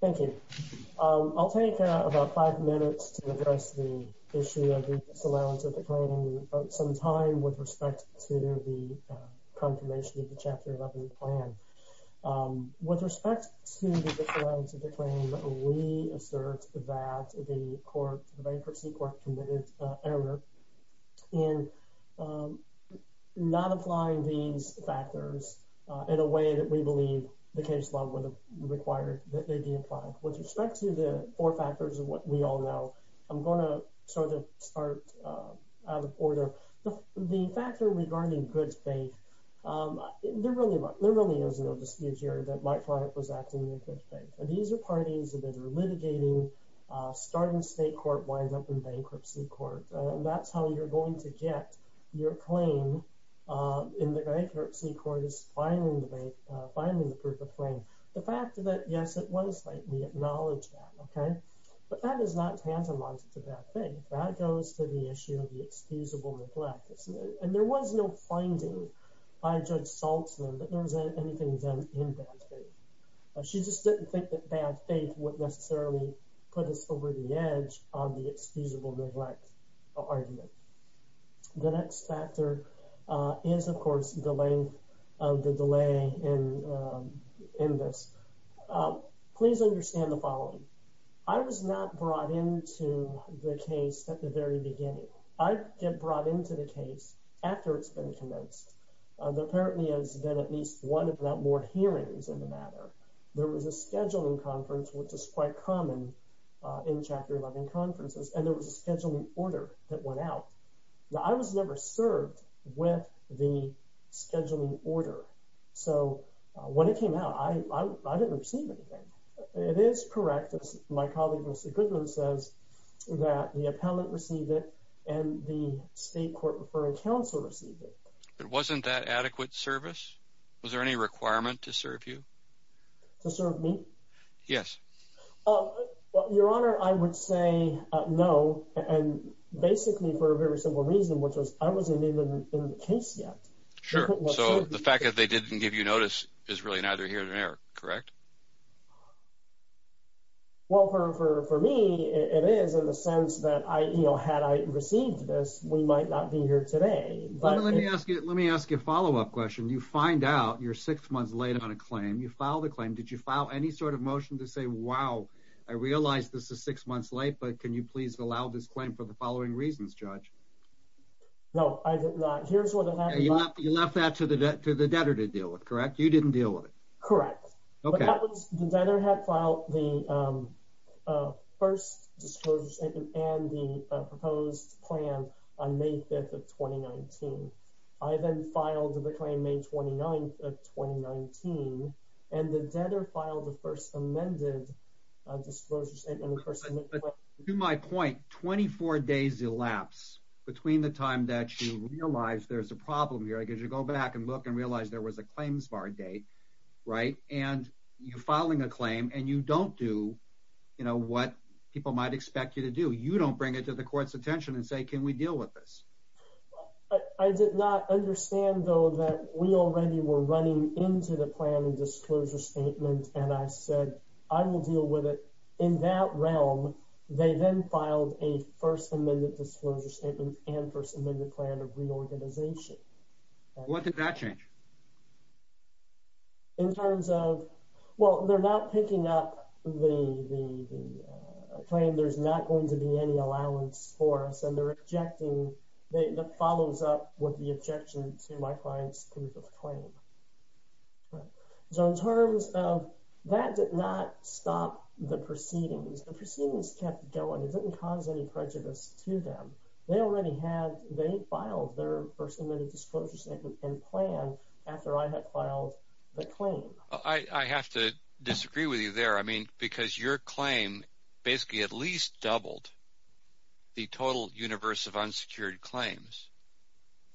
Thank you. I'll take about five minutes to address the issue of the disallowance of the claim sometime with respect to the confirmation of the Chapter 11 plan. With respect to the disallowance of the claim, we assert that the bankruptcy court committed error in not applying these factors in a way that we believe the case law would have required that they be applied. With respect to the four factors of what we all know, I'm going to sort of start out of order. The factor regarding good faith, there really is no dispute here that Mike Flanagan was acting in good faith. These are parties that are litigating, starting state court, wind up in bankruptcy court. That's how you're going to get your claim in the bankruptcy court is filing the proof of claim. The fact that, yes, it was like we acknowledge that, okay, but that is not tantamount to bad faith. That goes to the issue of the excusable neglect. And there was no finding by Judge Saltzman that there was anything done in bad faith. She just didn't think that bad faith would necessarily put us over the edge on the excusable neglect argument. The next factor is, of course, the length of the delay in this. Please understand the following. I was not brought into the case at the very beginning. I get brought into the case after it's been commenced. There apparently has been at least one of the board hearings in the matter. There was a scheduling conference, which is quite common in Chapter 11 conferences, and there was a scheduling order that went out. Now, I was never served with the scheduling order. So when it came out, I didn't receive anything. It is correct, as my colleague, Mr. Goodman, says, that the appellant received it and the to serve you? To serve me? Yes. Your Honor, I would say no, and basically for a very simple reason, which was I wasn't even in the case yet. Sure. So the fact that they didn't give you notice is really neither here nor there, correct? Well, for me, it is in the sense that I, you know, had I received this, we might not be here today. Let me ask you a follow-up question. You find out you're six months late on a claim. You filed a claim. Did you file any sort of motion to say, wow, I realized this is six months late, but can you please allow this claim for the following reasons, Judge? No, I did not. Here's what happened. You left that to the debtor to deal with, correct? You didn't deal with it. Correct. The debtor had filed the first disclosure statement and the proposed plan on May 5th of 2019. I then filed the claim May 29th of 2019, and the debtor filed the first amended disclosure statement. To my point, 24 days elapse between the time that you realize there's a problem here, because you go back and look and realize there was a claims bar date, right? And you're filing a claim and you don't do, you know, what people might expect you to do. You don't bring it to the court's attention and say, can we deal with this? I did not understand, though, that we already were running into the plan and disclosure statement, and I said, I will deal with it. In that realm, they then filed a first amended disclosure statement and first amended plan of reorganization. What did that change? In terms of, well, they're not picking up the claim, there's not going to be any allowance for us, and they're rejecting, that follows up with the objection to my client's proof of claim. So in terms of, that did not stop the proceedings. The proceedings kept going. It didn't cause any prejudice to them. They already had, they filed their first amended disclosure statement and plan after I had filed the claim. I have to disagree with you there. I mean, because your claim basically at least doubled the total universe of unsecured claims.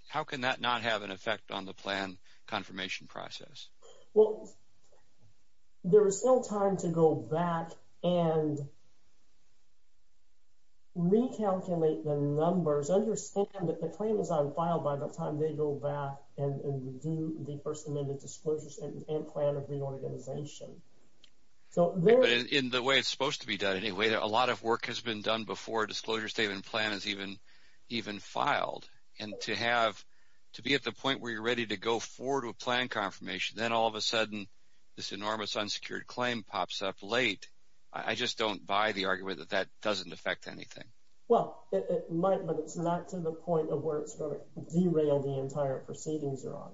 How can that not have an effect on the plan confirmation process? Well, there is still time to go back and recalculate the numbers. Understand that the claim is unfiled by the time they go back and do the first amended disclosure statement and plan of reorganization. In the way it's supposed to be done, anyway, a lot of work has been done before a disclosure statement plan is even filed, and to have, to be at the point where you're ready to go forward with plan confirmation, then all of a sudden, this enormous unsecured claim pops up late. I just don't buy the argument that that doesn't affect anything. Well, it might, but it's not to the point of where it's going to derail the entire proceedings they're on.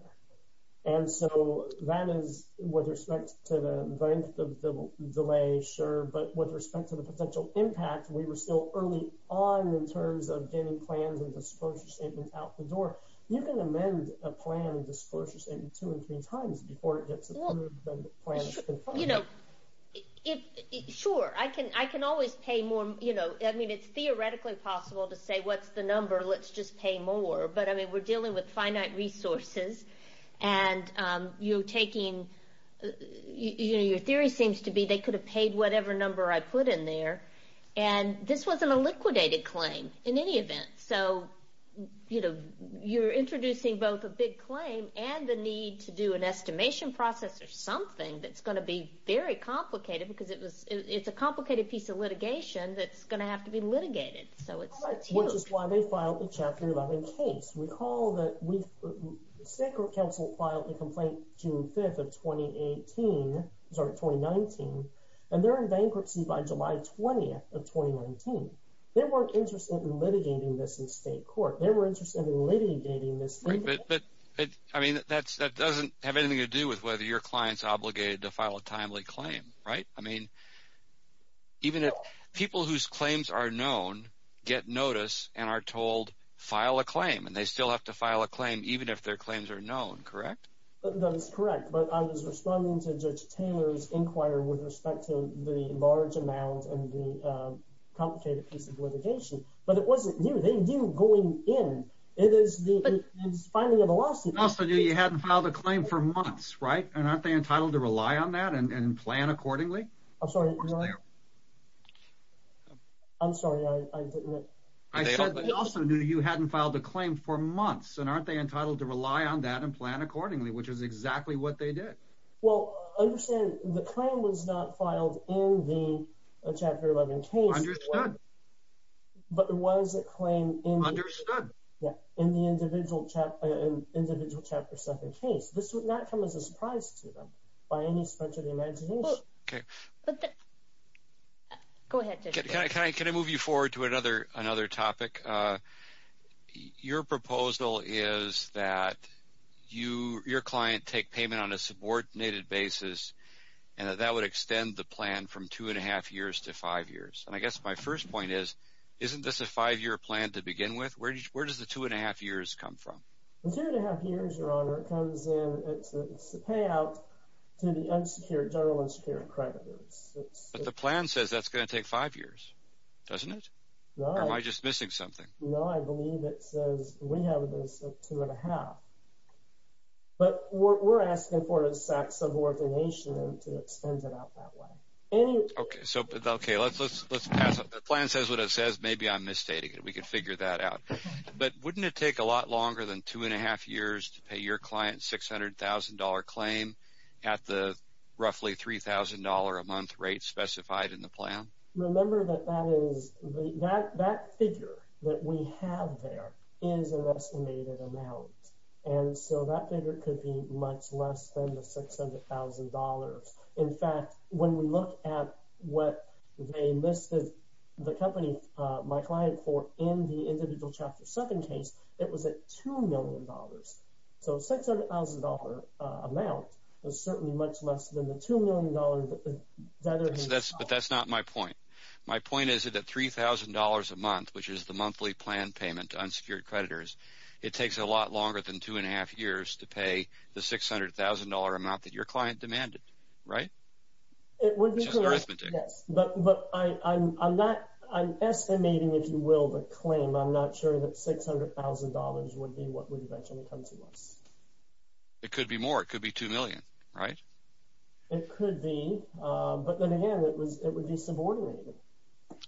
And so that is with respect to the length of the delay, sure, but with respect to the potential impact, we were still early on in terms of getting plans and disclosure statements out the door. You can amend a plan and disclosure statement two and three times before it gets approved and the plan is confirmed. Sure. I can always pay more. I mean, it's theoretically possible to say, what's the number? Let's just pay more. But I mean, we're dealing with finite resources and you're taking, you know, your theory seems to be they could have paid whatever number I put in there. And this wasn't a liquidated claim in any event. So, you know, you're introducing both a big claim and the need to do an estimation process or something that's going to be very complicated because it was, it's a complicated piece of litigated. So it's huge. Which is why they filed a chapter 11 case. Recall that we, the state court counsel filed a complaint June 5th of 2018, sorry, 2019, and they're in bankruptcy by July 20th of 2019. They weren't interested in litigating this in state court. They were interested in litigating this. Right. But, I mean, that doesn't have anything to do with whether your client's obligated to file a timely claim, right? I mean, even if people whose claims are known get notice and are told file a claim and they still have to file a claim, even if their claims are known, correct? That is correct. But I was responding to Judge Taylor's inquiry with respect to the large amount and the complicated piece of litigation, but it wasn't you, they knew going in, it is the finding of a lawsuit. Also, you hadn't filed a claim for months, right? And aren't they entitled to rely on that and plan accordingly? I'm sorry. I'm sorry. I didn't know. I also knew you hadn't filed a claim for months and aren't they entitled to rely on that and plan accordingly, which is exactly what they did. Well, understand the claim was not filed in the chapter 11 case. Understood. But it was a claim in the individual chapter 7 case. This would not come as a surprise to them by any stretch of the imagination. Okay. Go ahead, Judge Taylor. Can I move you forward to another topic? Your proposal is that your client take payment on a subordinated basis and that would extend the plan from two and a half years to five years. And I guess my first point is, isn't this a five-year plan to begin with? Where does the two and a half years come from? The two and a half years, Your Honor, it comes in, it's the payout to the unsecured, general unsecured creditors. But the plan says that's going to take five years, doesn't it? Or am I just missing something? No, I believe it says we have this two and a half. But we're asking for a subordination to extend it out that way. Okay. So, okay. Let's pass it. The plan says what it says. Maybe I'm misstating it. We could figure that out. But wouldn't it take a lot longer than two and a half years to pay your client $600,000 claim at the roughly $3,000 a month rate specified in the plan? Remember that that figure that we have there is an estimated amount. And so that figure could be much less than the $600,000. In fact, when we look at what they listed the company, my client, for in the individual chapter seven case, it was at $2 million. So $600,000 amount is certainly much less than the $2 million. But that's not my point. My point is that $3,000 a month, which is the monthly plan payment to unsecured creditors, it takes a lot longer than two and a half years to pay the $600,000 amount that your client demanded, right? It would be. But I'm not, I'm estimating, if you will, the claim. I'm not sure that $600,000 would be what would eventually come to us. It could be more. It could be $2 million, right? It could be. But then again, it was, it would be subordinated.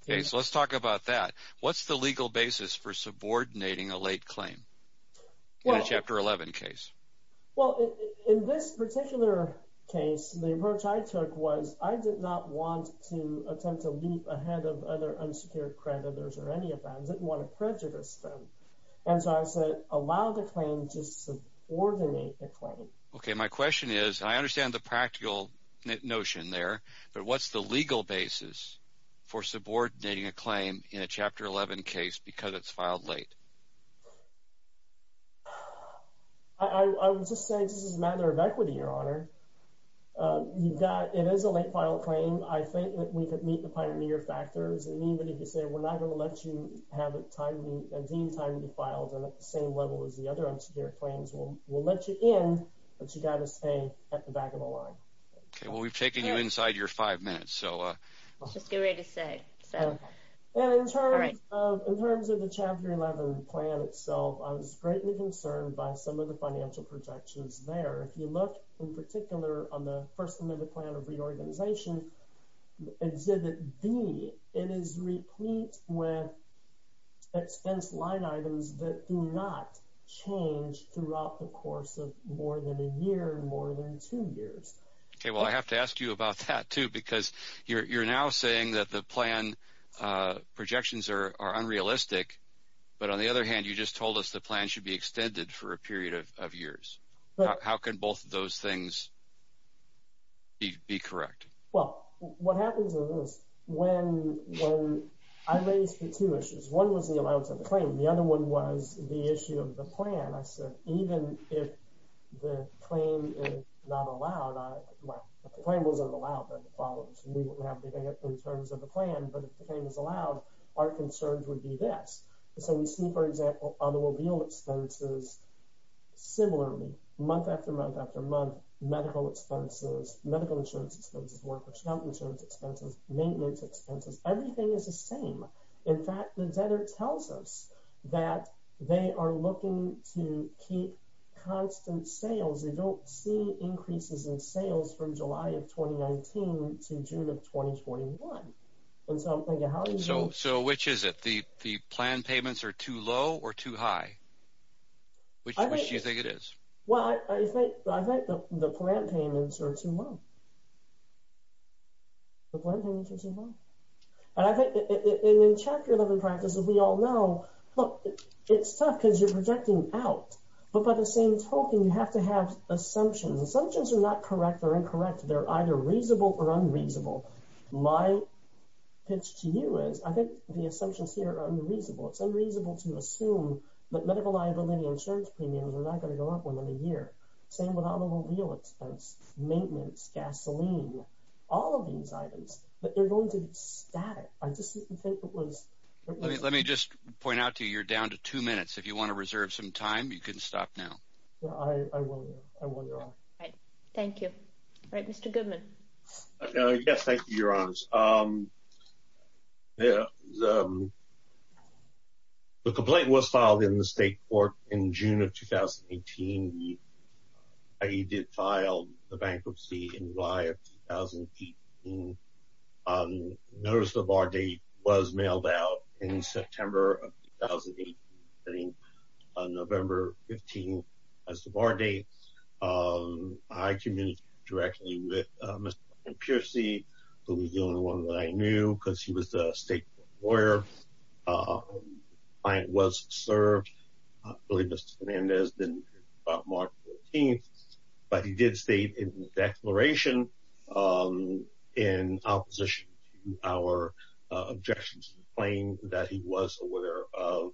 Okay. So let's talk about that. What's the legal basis for subordinating a late claim? In a chapter 11 case. Well, in this particular case, the approach I took was, I did not want to attempt to leap ahead of other unsecured creditors or any of that. I didn't want to prejudice them. And so I said, allow the claim to subordinate the claim. Okay. My question is, I understand the practical notion there, but what's the legal basis for subordinating a claim in a chapter 11 case because it's filed late? I would just say, this is a matter of equity, Your Honor. You've got, it is a late file claim. I think that we could meet the pioneer factors. And even if you say, we're not going to let you have a time, a deemed time to file them at the same level as the other unsecured claims, we'll let you in, but you got to stay at the back of the line. Okay. Well, we've taken you inside your five minutes, so. Let's just get ready to say. And in terms of the chapter 11 plan itself, I was greatly concerned by some of the financial projections there. If you look in particular on the first limited plan of reorganization, exhibit B, it is replete with expense line items that do not change throughout the course of more than a year, more than two years. Okay. Well, I have to ask you about that too, because you're now saying that the plan projections are unrealistic, but on the other hand, you just told us the plan should be extended for a period of years. How can both of those things be correct? Well, what happens is when I raised the two issues, one was the allowance of the claim. The other one was the issue of the plan. I said, even if the claim is not allowed, the claim wasn't allowed by the followers and we wouldn't have anything in terms of the plan, but if the claim is allowed, our concerns would be this. So we see, for example, automobile expenses similarly, month after month after month, medical expenses, medical insurance expenses, workers' health insurance expenses, maintenance expenses. Everything is the same. In fact, the debtor tells us that they are looking to keep constant sales. They don't see increases in sales from July of 2019 to June of 2021. So which is it? The plan payments are too low or too high? Which do you think it is? Well, I think the plan payments are too low. The plan payments are too low. And I think in Chapter 11 practice, as we all know, look, it's tough because you're projecting out, but by the same token, you have to have assumptions. Assumptions are not correct or incorrect. They're either reasonable or unreasonable. My pitch to you is I think the assumptions here are unreasonable. It's unreasonable to assume that medical liability insurance premiums are not going to go up within a year. Same with automobile expense, maintenance, gasoline, all of these items, but they're going to be static. Let me just point out to you, you're down to two minutes. If you want to reserve some time, you can stop now. Thank you. All right, Mr. Goodman. Yes, thank you, Your Honors. The complaint was filed in the state court in June of 2018. He did file the bankruptcy in July of 2018. The notice of our date was mailed out in September of 2018, November 15th as the bar date. I communicated directly with Mr. Piercey, who was the only one that I knew because he was a state lawyer. The client was served. I believe Mr. Fernandez didn't hear about March 14th, but he did state in his declaration in opposition to our objections to the claim that he was aware of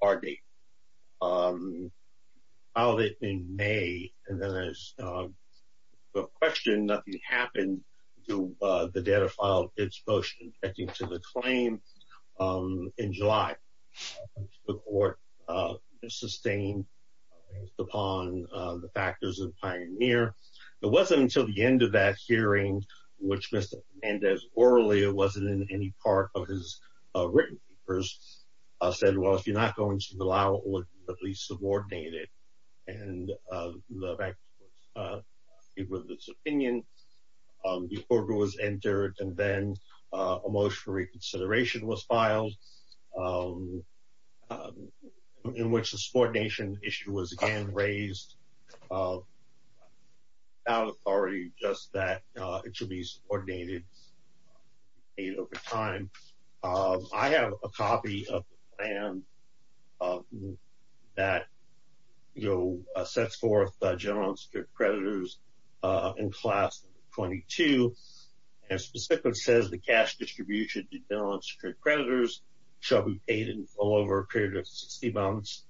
our date. Filed it in May, and then as a question, nothing happened to the data file, its motion to the claim in July. The court sustained based upon the factors of Pioneer. It wasn't until the end of that hearing, which Mr. Fernandez orally, it wasn't in any part of his written papers, said, well, if you're not going to allow it, at least subordinate it, and the bank was in agreement with his opinion. The order was entered, and then a motion for reconsideration was filed in which the subordination issue was again raised without authority, just that it should be subordinated over time. I have a copy of the plan that sets forth general and secured creditors in class 22, and specifically says the cash distribution to general and secured creditors shall be paid in all over a period of 60 months,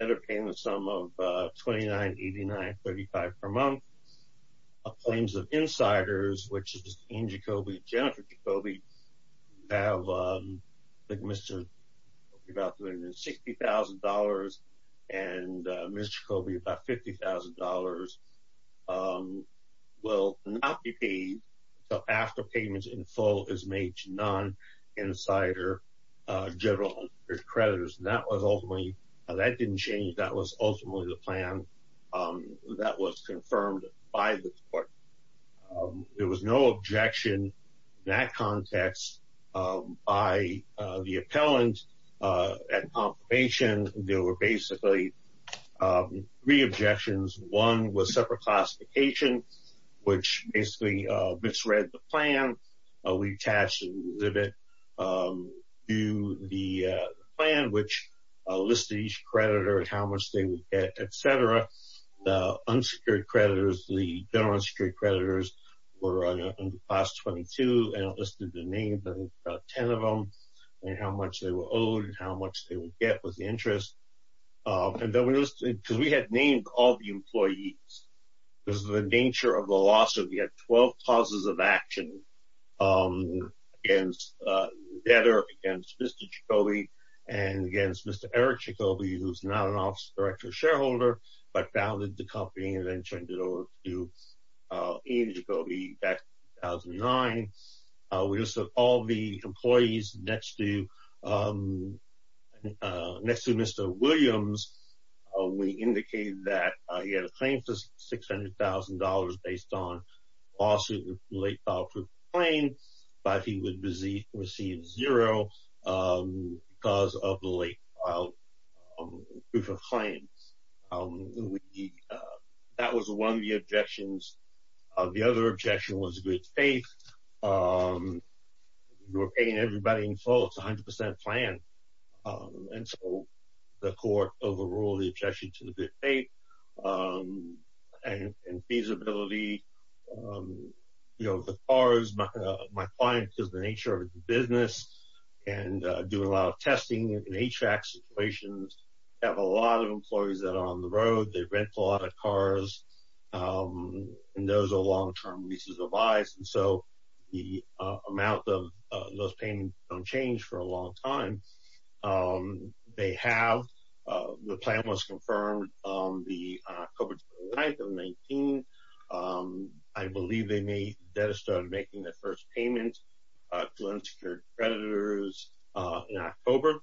and are paying the sum of $29.8935 per month. Claims of insiders, which is Dean Jacoby, Jennifer Jacoby, have like Mr. Jacoby about $360,000, and Mr. Jacoby about $50,000 will not be paid until after payments in full is made to non-insider general and secured creditors, and that was ultimately, that didn't change, that was ultimately the plan that was confirmed by the court. There was no objection in that context by the appellant at confirmation. There were basically three objections. One was separate classification, which basically misread the plan. We attached the exhibit to the plan, which listed each creditor, how much they would get, et cetera. The unsecured creditors, the general and secured creditors were under class 22 and listed the names of about 10 of them, and how much they were owed, and how much they would get was the interest. And then we listed, because we had named all the employees, because of the nature of the lawsuit, we had 12 clauses of action against the debtor, against Mr. Jacoby, and against Mr. Eric Jacoby, who's not an office director or shareholder, but founded the company and then turned it over to Ian Jacoby back in 2009. We listed all the employees next to Mr. Williams. We indicated that he had a claim for $600,000 based on late filed proof of claim, but he would receive zero because of the late filed proof of claim. That was one of the objections. The other objection was good faith. You're paying everybody in full, it's 100% planned. And so the court overruled the objection to the good faith and feasibility. The cars, my client, because of the nature of his business and doing a lot of testing in HVAC situations, have a lot of employees that are on the road, they rent a lot of cars, and those are long-term leases of lives. And so the amount of those payments don't change for a long time. They have, the plan was confirmed on October 29, 2019. I believe they made, the debtor started making their first payment to unsecured creditors in October.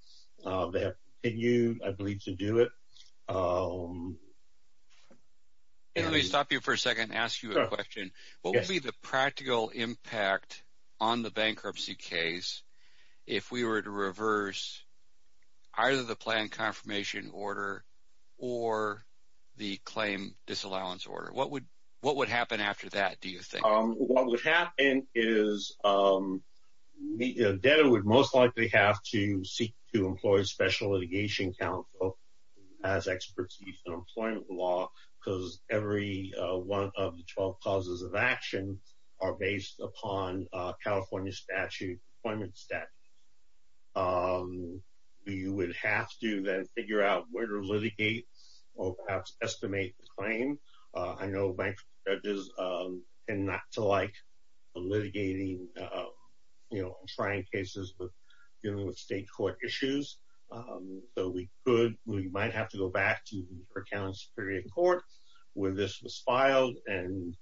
They have continued, I believe, to do it. Let me stop you for a second and ask you a question. What would be the practical impact on the bankruptcy case if we were to reverse either the plan confirmation order or the claim disallowance order? What would happen after that, do you think? What would happen is the debtor would most likely have to seek to employ a special litigation counsel as expertise in employment law, because every one of the 12 causes of action are based upon California statute, employment statute. You would have to then figure out where to litigate or perhaps estimate the claim. I know bankruptcy judges tend not to like litigating, you know, trying cases dealing with state court issues. So we could, we might have to go back to the New York County Superior Court where this was filed and,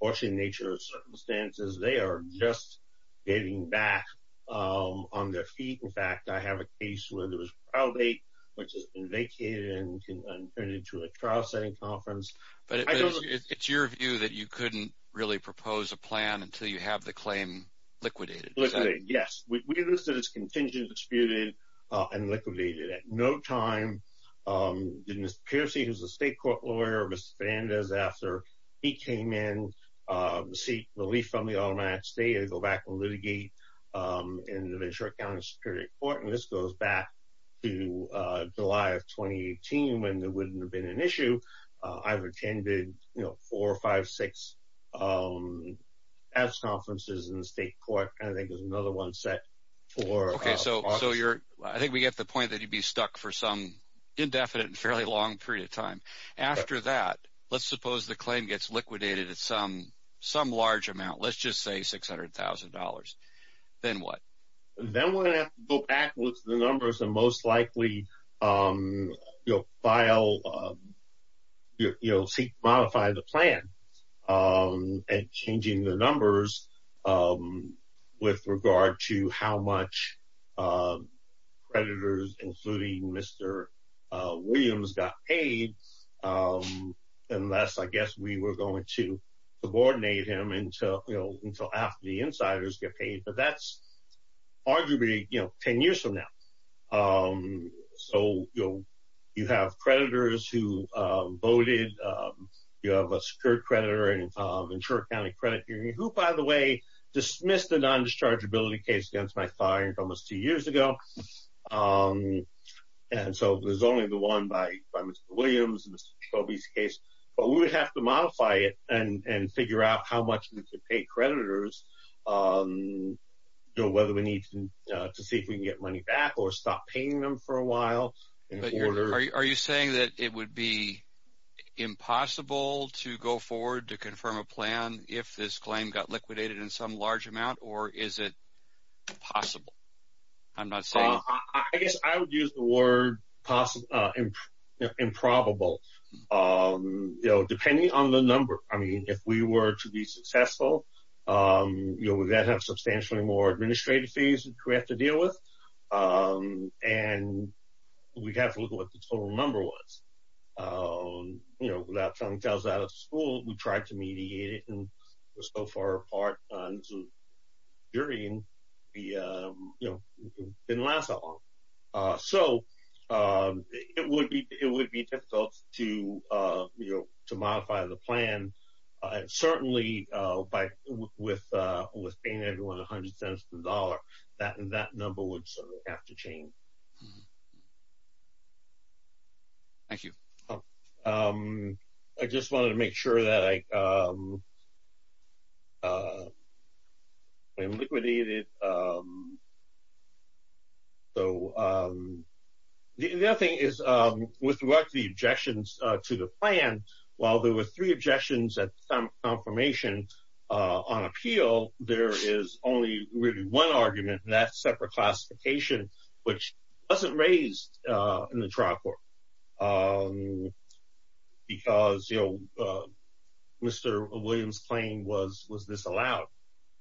unfortunately, in nature of circumstances, they are just getting back on their feet. In fact, I have a case where there was a trial date, which has been vacated and turned into a trial setting conference. But it's your view that you couldn't really propose a plan until you have the claim liquidated, is that it? Yes, we understood it's contingent disputed and liquidated. At no time did Mr. Piercy, who's a state court lawyer, Mr. Fernandez, after he came in, seek relief from the automatic state and go back and litigate in the New York County Superior Court. And this goes back to July of 2018 when there wouldn't have been an issue. I've attended, you know, four or five, six tax conferences in the state court, and I think there's another one set for... Okay, so I think we get the point that you'd be stuck for some indefinite and fairly long period of time. After that, let's suppose the claim gets liquidated at some large amount, let's just say $600,000, then what? Then we're going to have to go back with the numbers and most likely, you know, file, you know, seek to modify the plan and changing the numbers with regard to how much creditors, including Mr. Williams, got paid, unless, I guess, we were going to subordinate him until, you know, until after the insiders get paid. But that's arguably, you know, 10 years from now. So, you know, you have creditors who voted, you have a secured creditor and insured accounting credit union, who, by the way, dismissed the non-dischargeability case against my client almost two years ago. And so, there's only the one by Mr. Williams, Mr. Jacoby's case, but we would have to modify it and figure out how much we could pay creditors, you know, whether we need to see if we can get money back or stop paying them for a while. But are you saying that it would be impossible to go forward to confirm a plan if this claim got liquidated in some large amount, or is it possible? I'm not saying. I guess I would use the word possible, improbable, you know, depending on the number. I mean, if we were to be successful, you know, we would then have substantially more administrative fees that we have to deal with. And we'd have to look at what the total number was. You know, without telling us out of school, we tried to mediate it and it was so far apart during the, you know, it didn't last that long. So, it would be difficult to, you know, to modify the plan certainly with paying everyone a hundred cents per dollar, that number would have to change. Thank you. I just wanted to make sure that I liquidated. So, the other thing is with what the objections to the plan, while there were three objections at the time of confirmation on appeal, there is only really one argument and that's separate classification, which wasn't raised in the trial court because, you know, Mr. Williams' claim was disallowed.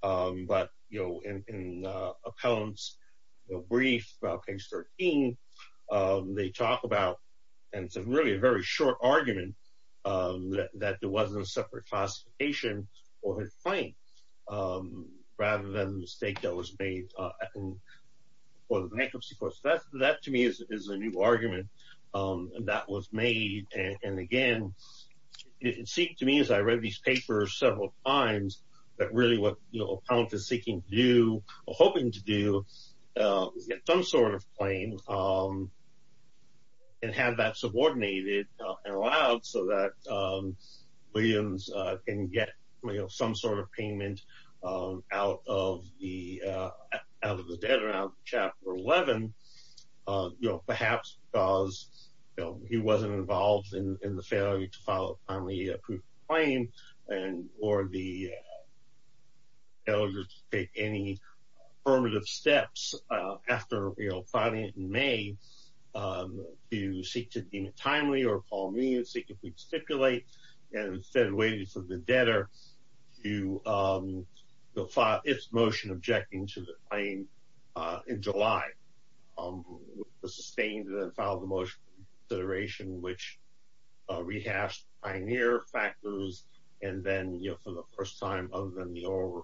But, you know, in appellant's brief about page 13, they talk about, and it's really a very short argument, that there wasn't a separate classification or a claim rather than the mistake that was made for the bankruptcy court. So, that to me is a new argument that was made. And again, it seemed to me as I read these papers several times that really what, you know, allowed so that Williams can get, you know, some sort of payment out of the debt around chapter 11, you know, perhaps because, you know, he wasn't involved in the failure to file a timely proof of claim and or the elders take any affirmative steps after, you know, filing it in May to seek to deem it timely or call me and seek if we'd stipulate and instead of waiting for the debtor to file its motion objecting to the claim in July, sustained and then filed the motion consideration which rehashed pioneer factors and then, you know, for the first time other than the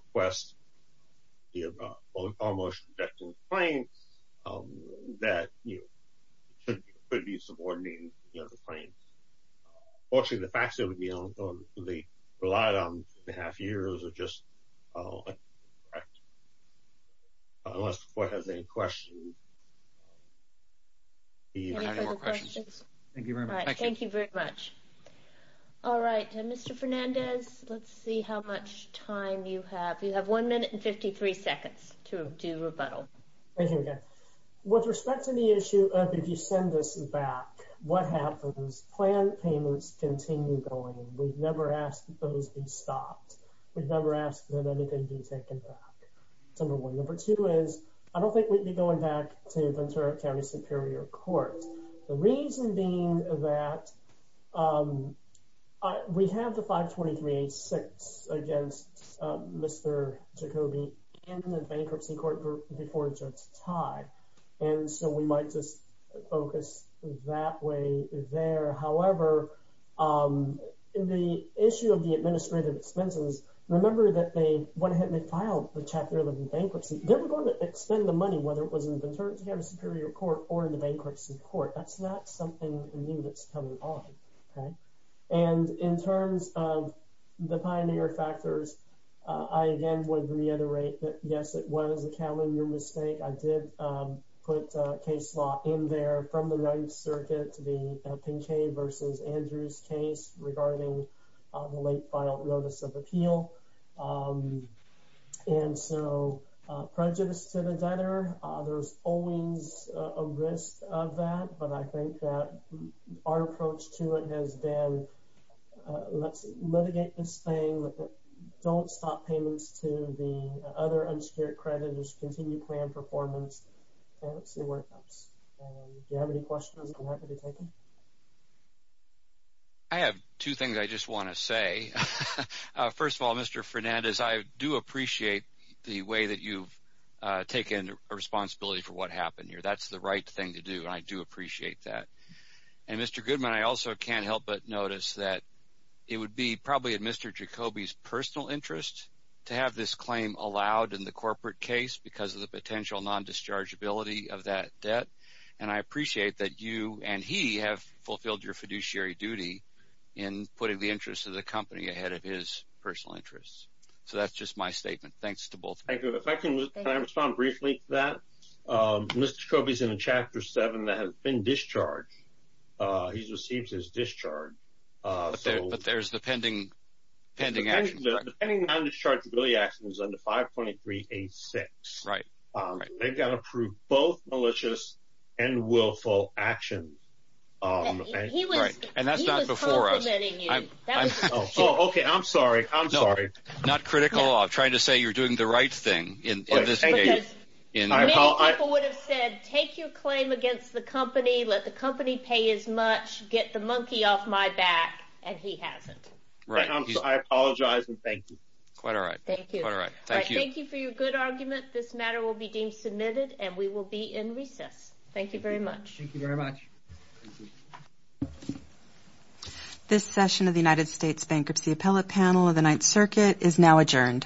could be subordinating, you know, the claim. Fortunately, the facts that would be on the relied on two and a half years or just unless the court has any questions. Thank you very much. Thank you very much. All right, Mr. Fernandez, let's see how much time you have. You have one minute and 53 seconds to do rebuttal. Thank you again. With respect to the issue of if you send us back what happens plan payments continue going. We've never asked those be stopped. We've never asked that anything be taken back. Number one. Number two is I don't think we'd be going back to Ventura County Superior Court. The reason being that we have the 523-86 against Mr. Jacobi in the bankruptcy court before it starts to tie. And so we might just focus that way there. However, in the issue of the administrative expenses, remember that they went ahead and they filed the chapter 11 bankruptcy. They were going to expend the money whether it was in the return to have a superior court or in the bankruptcy court. That's not something new that's coming on. And in terms of the pioneer factors, I again would reiterate that yes, what is the calendar mistake? I did put a case law in there from the ninth circuit to be Pinkei versus Andrews case regarding the late final notice of appeal. And so prejudice to the debtor, there's always a risk of that. But I think that our approach to it has been let's continue to plan performance. Do you have any questions? I have two things I just want to say. First of all, Mr. Fernandez, I do appreciate the way that you've taken responsibility for what happened here. That's the right thing to do. I do appreciate that. And Mr. Goodman, I also can't help but notice that it would be probably in Mr. Jacobi's interest to have this claim allowed in the corporate case because of the potential non-dischargeability of that debt. And I appreciate that you and he have fulfilled your fiduciary duty in putting the interests of the company ahead of his personal interests. So that's just my statement. Thanks to both. Thank you. If I can respond briefly to that. Mr. Jacobi is in a chapter seven that has been discharged. He's received his discharge. But there's the pending actions. The pending non-dischargeability actions under 523-86. Right. They've got to prove both malicious and willful actions. And that's not before us. He was complimenting you. Oh, OK. I'm sorry. I'm sorry. Not critical of trying to say you're doing the right thing in this case. Because many people would have said, take your claim against the company. Let the company pay as much. Get the monkey off my back. And he hasn't. I apologize and thank you. Quite all right. Thank you. Thank you for your good argument. This matter will be deemed submitted and we will be in recess. Thank you very much. Thank you very much. This session of the United States Bankruptcy Appellate Panel of the Ninth Circuit is now adjourned.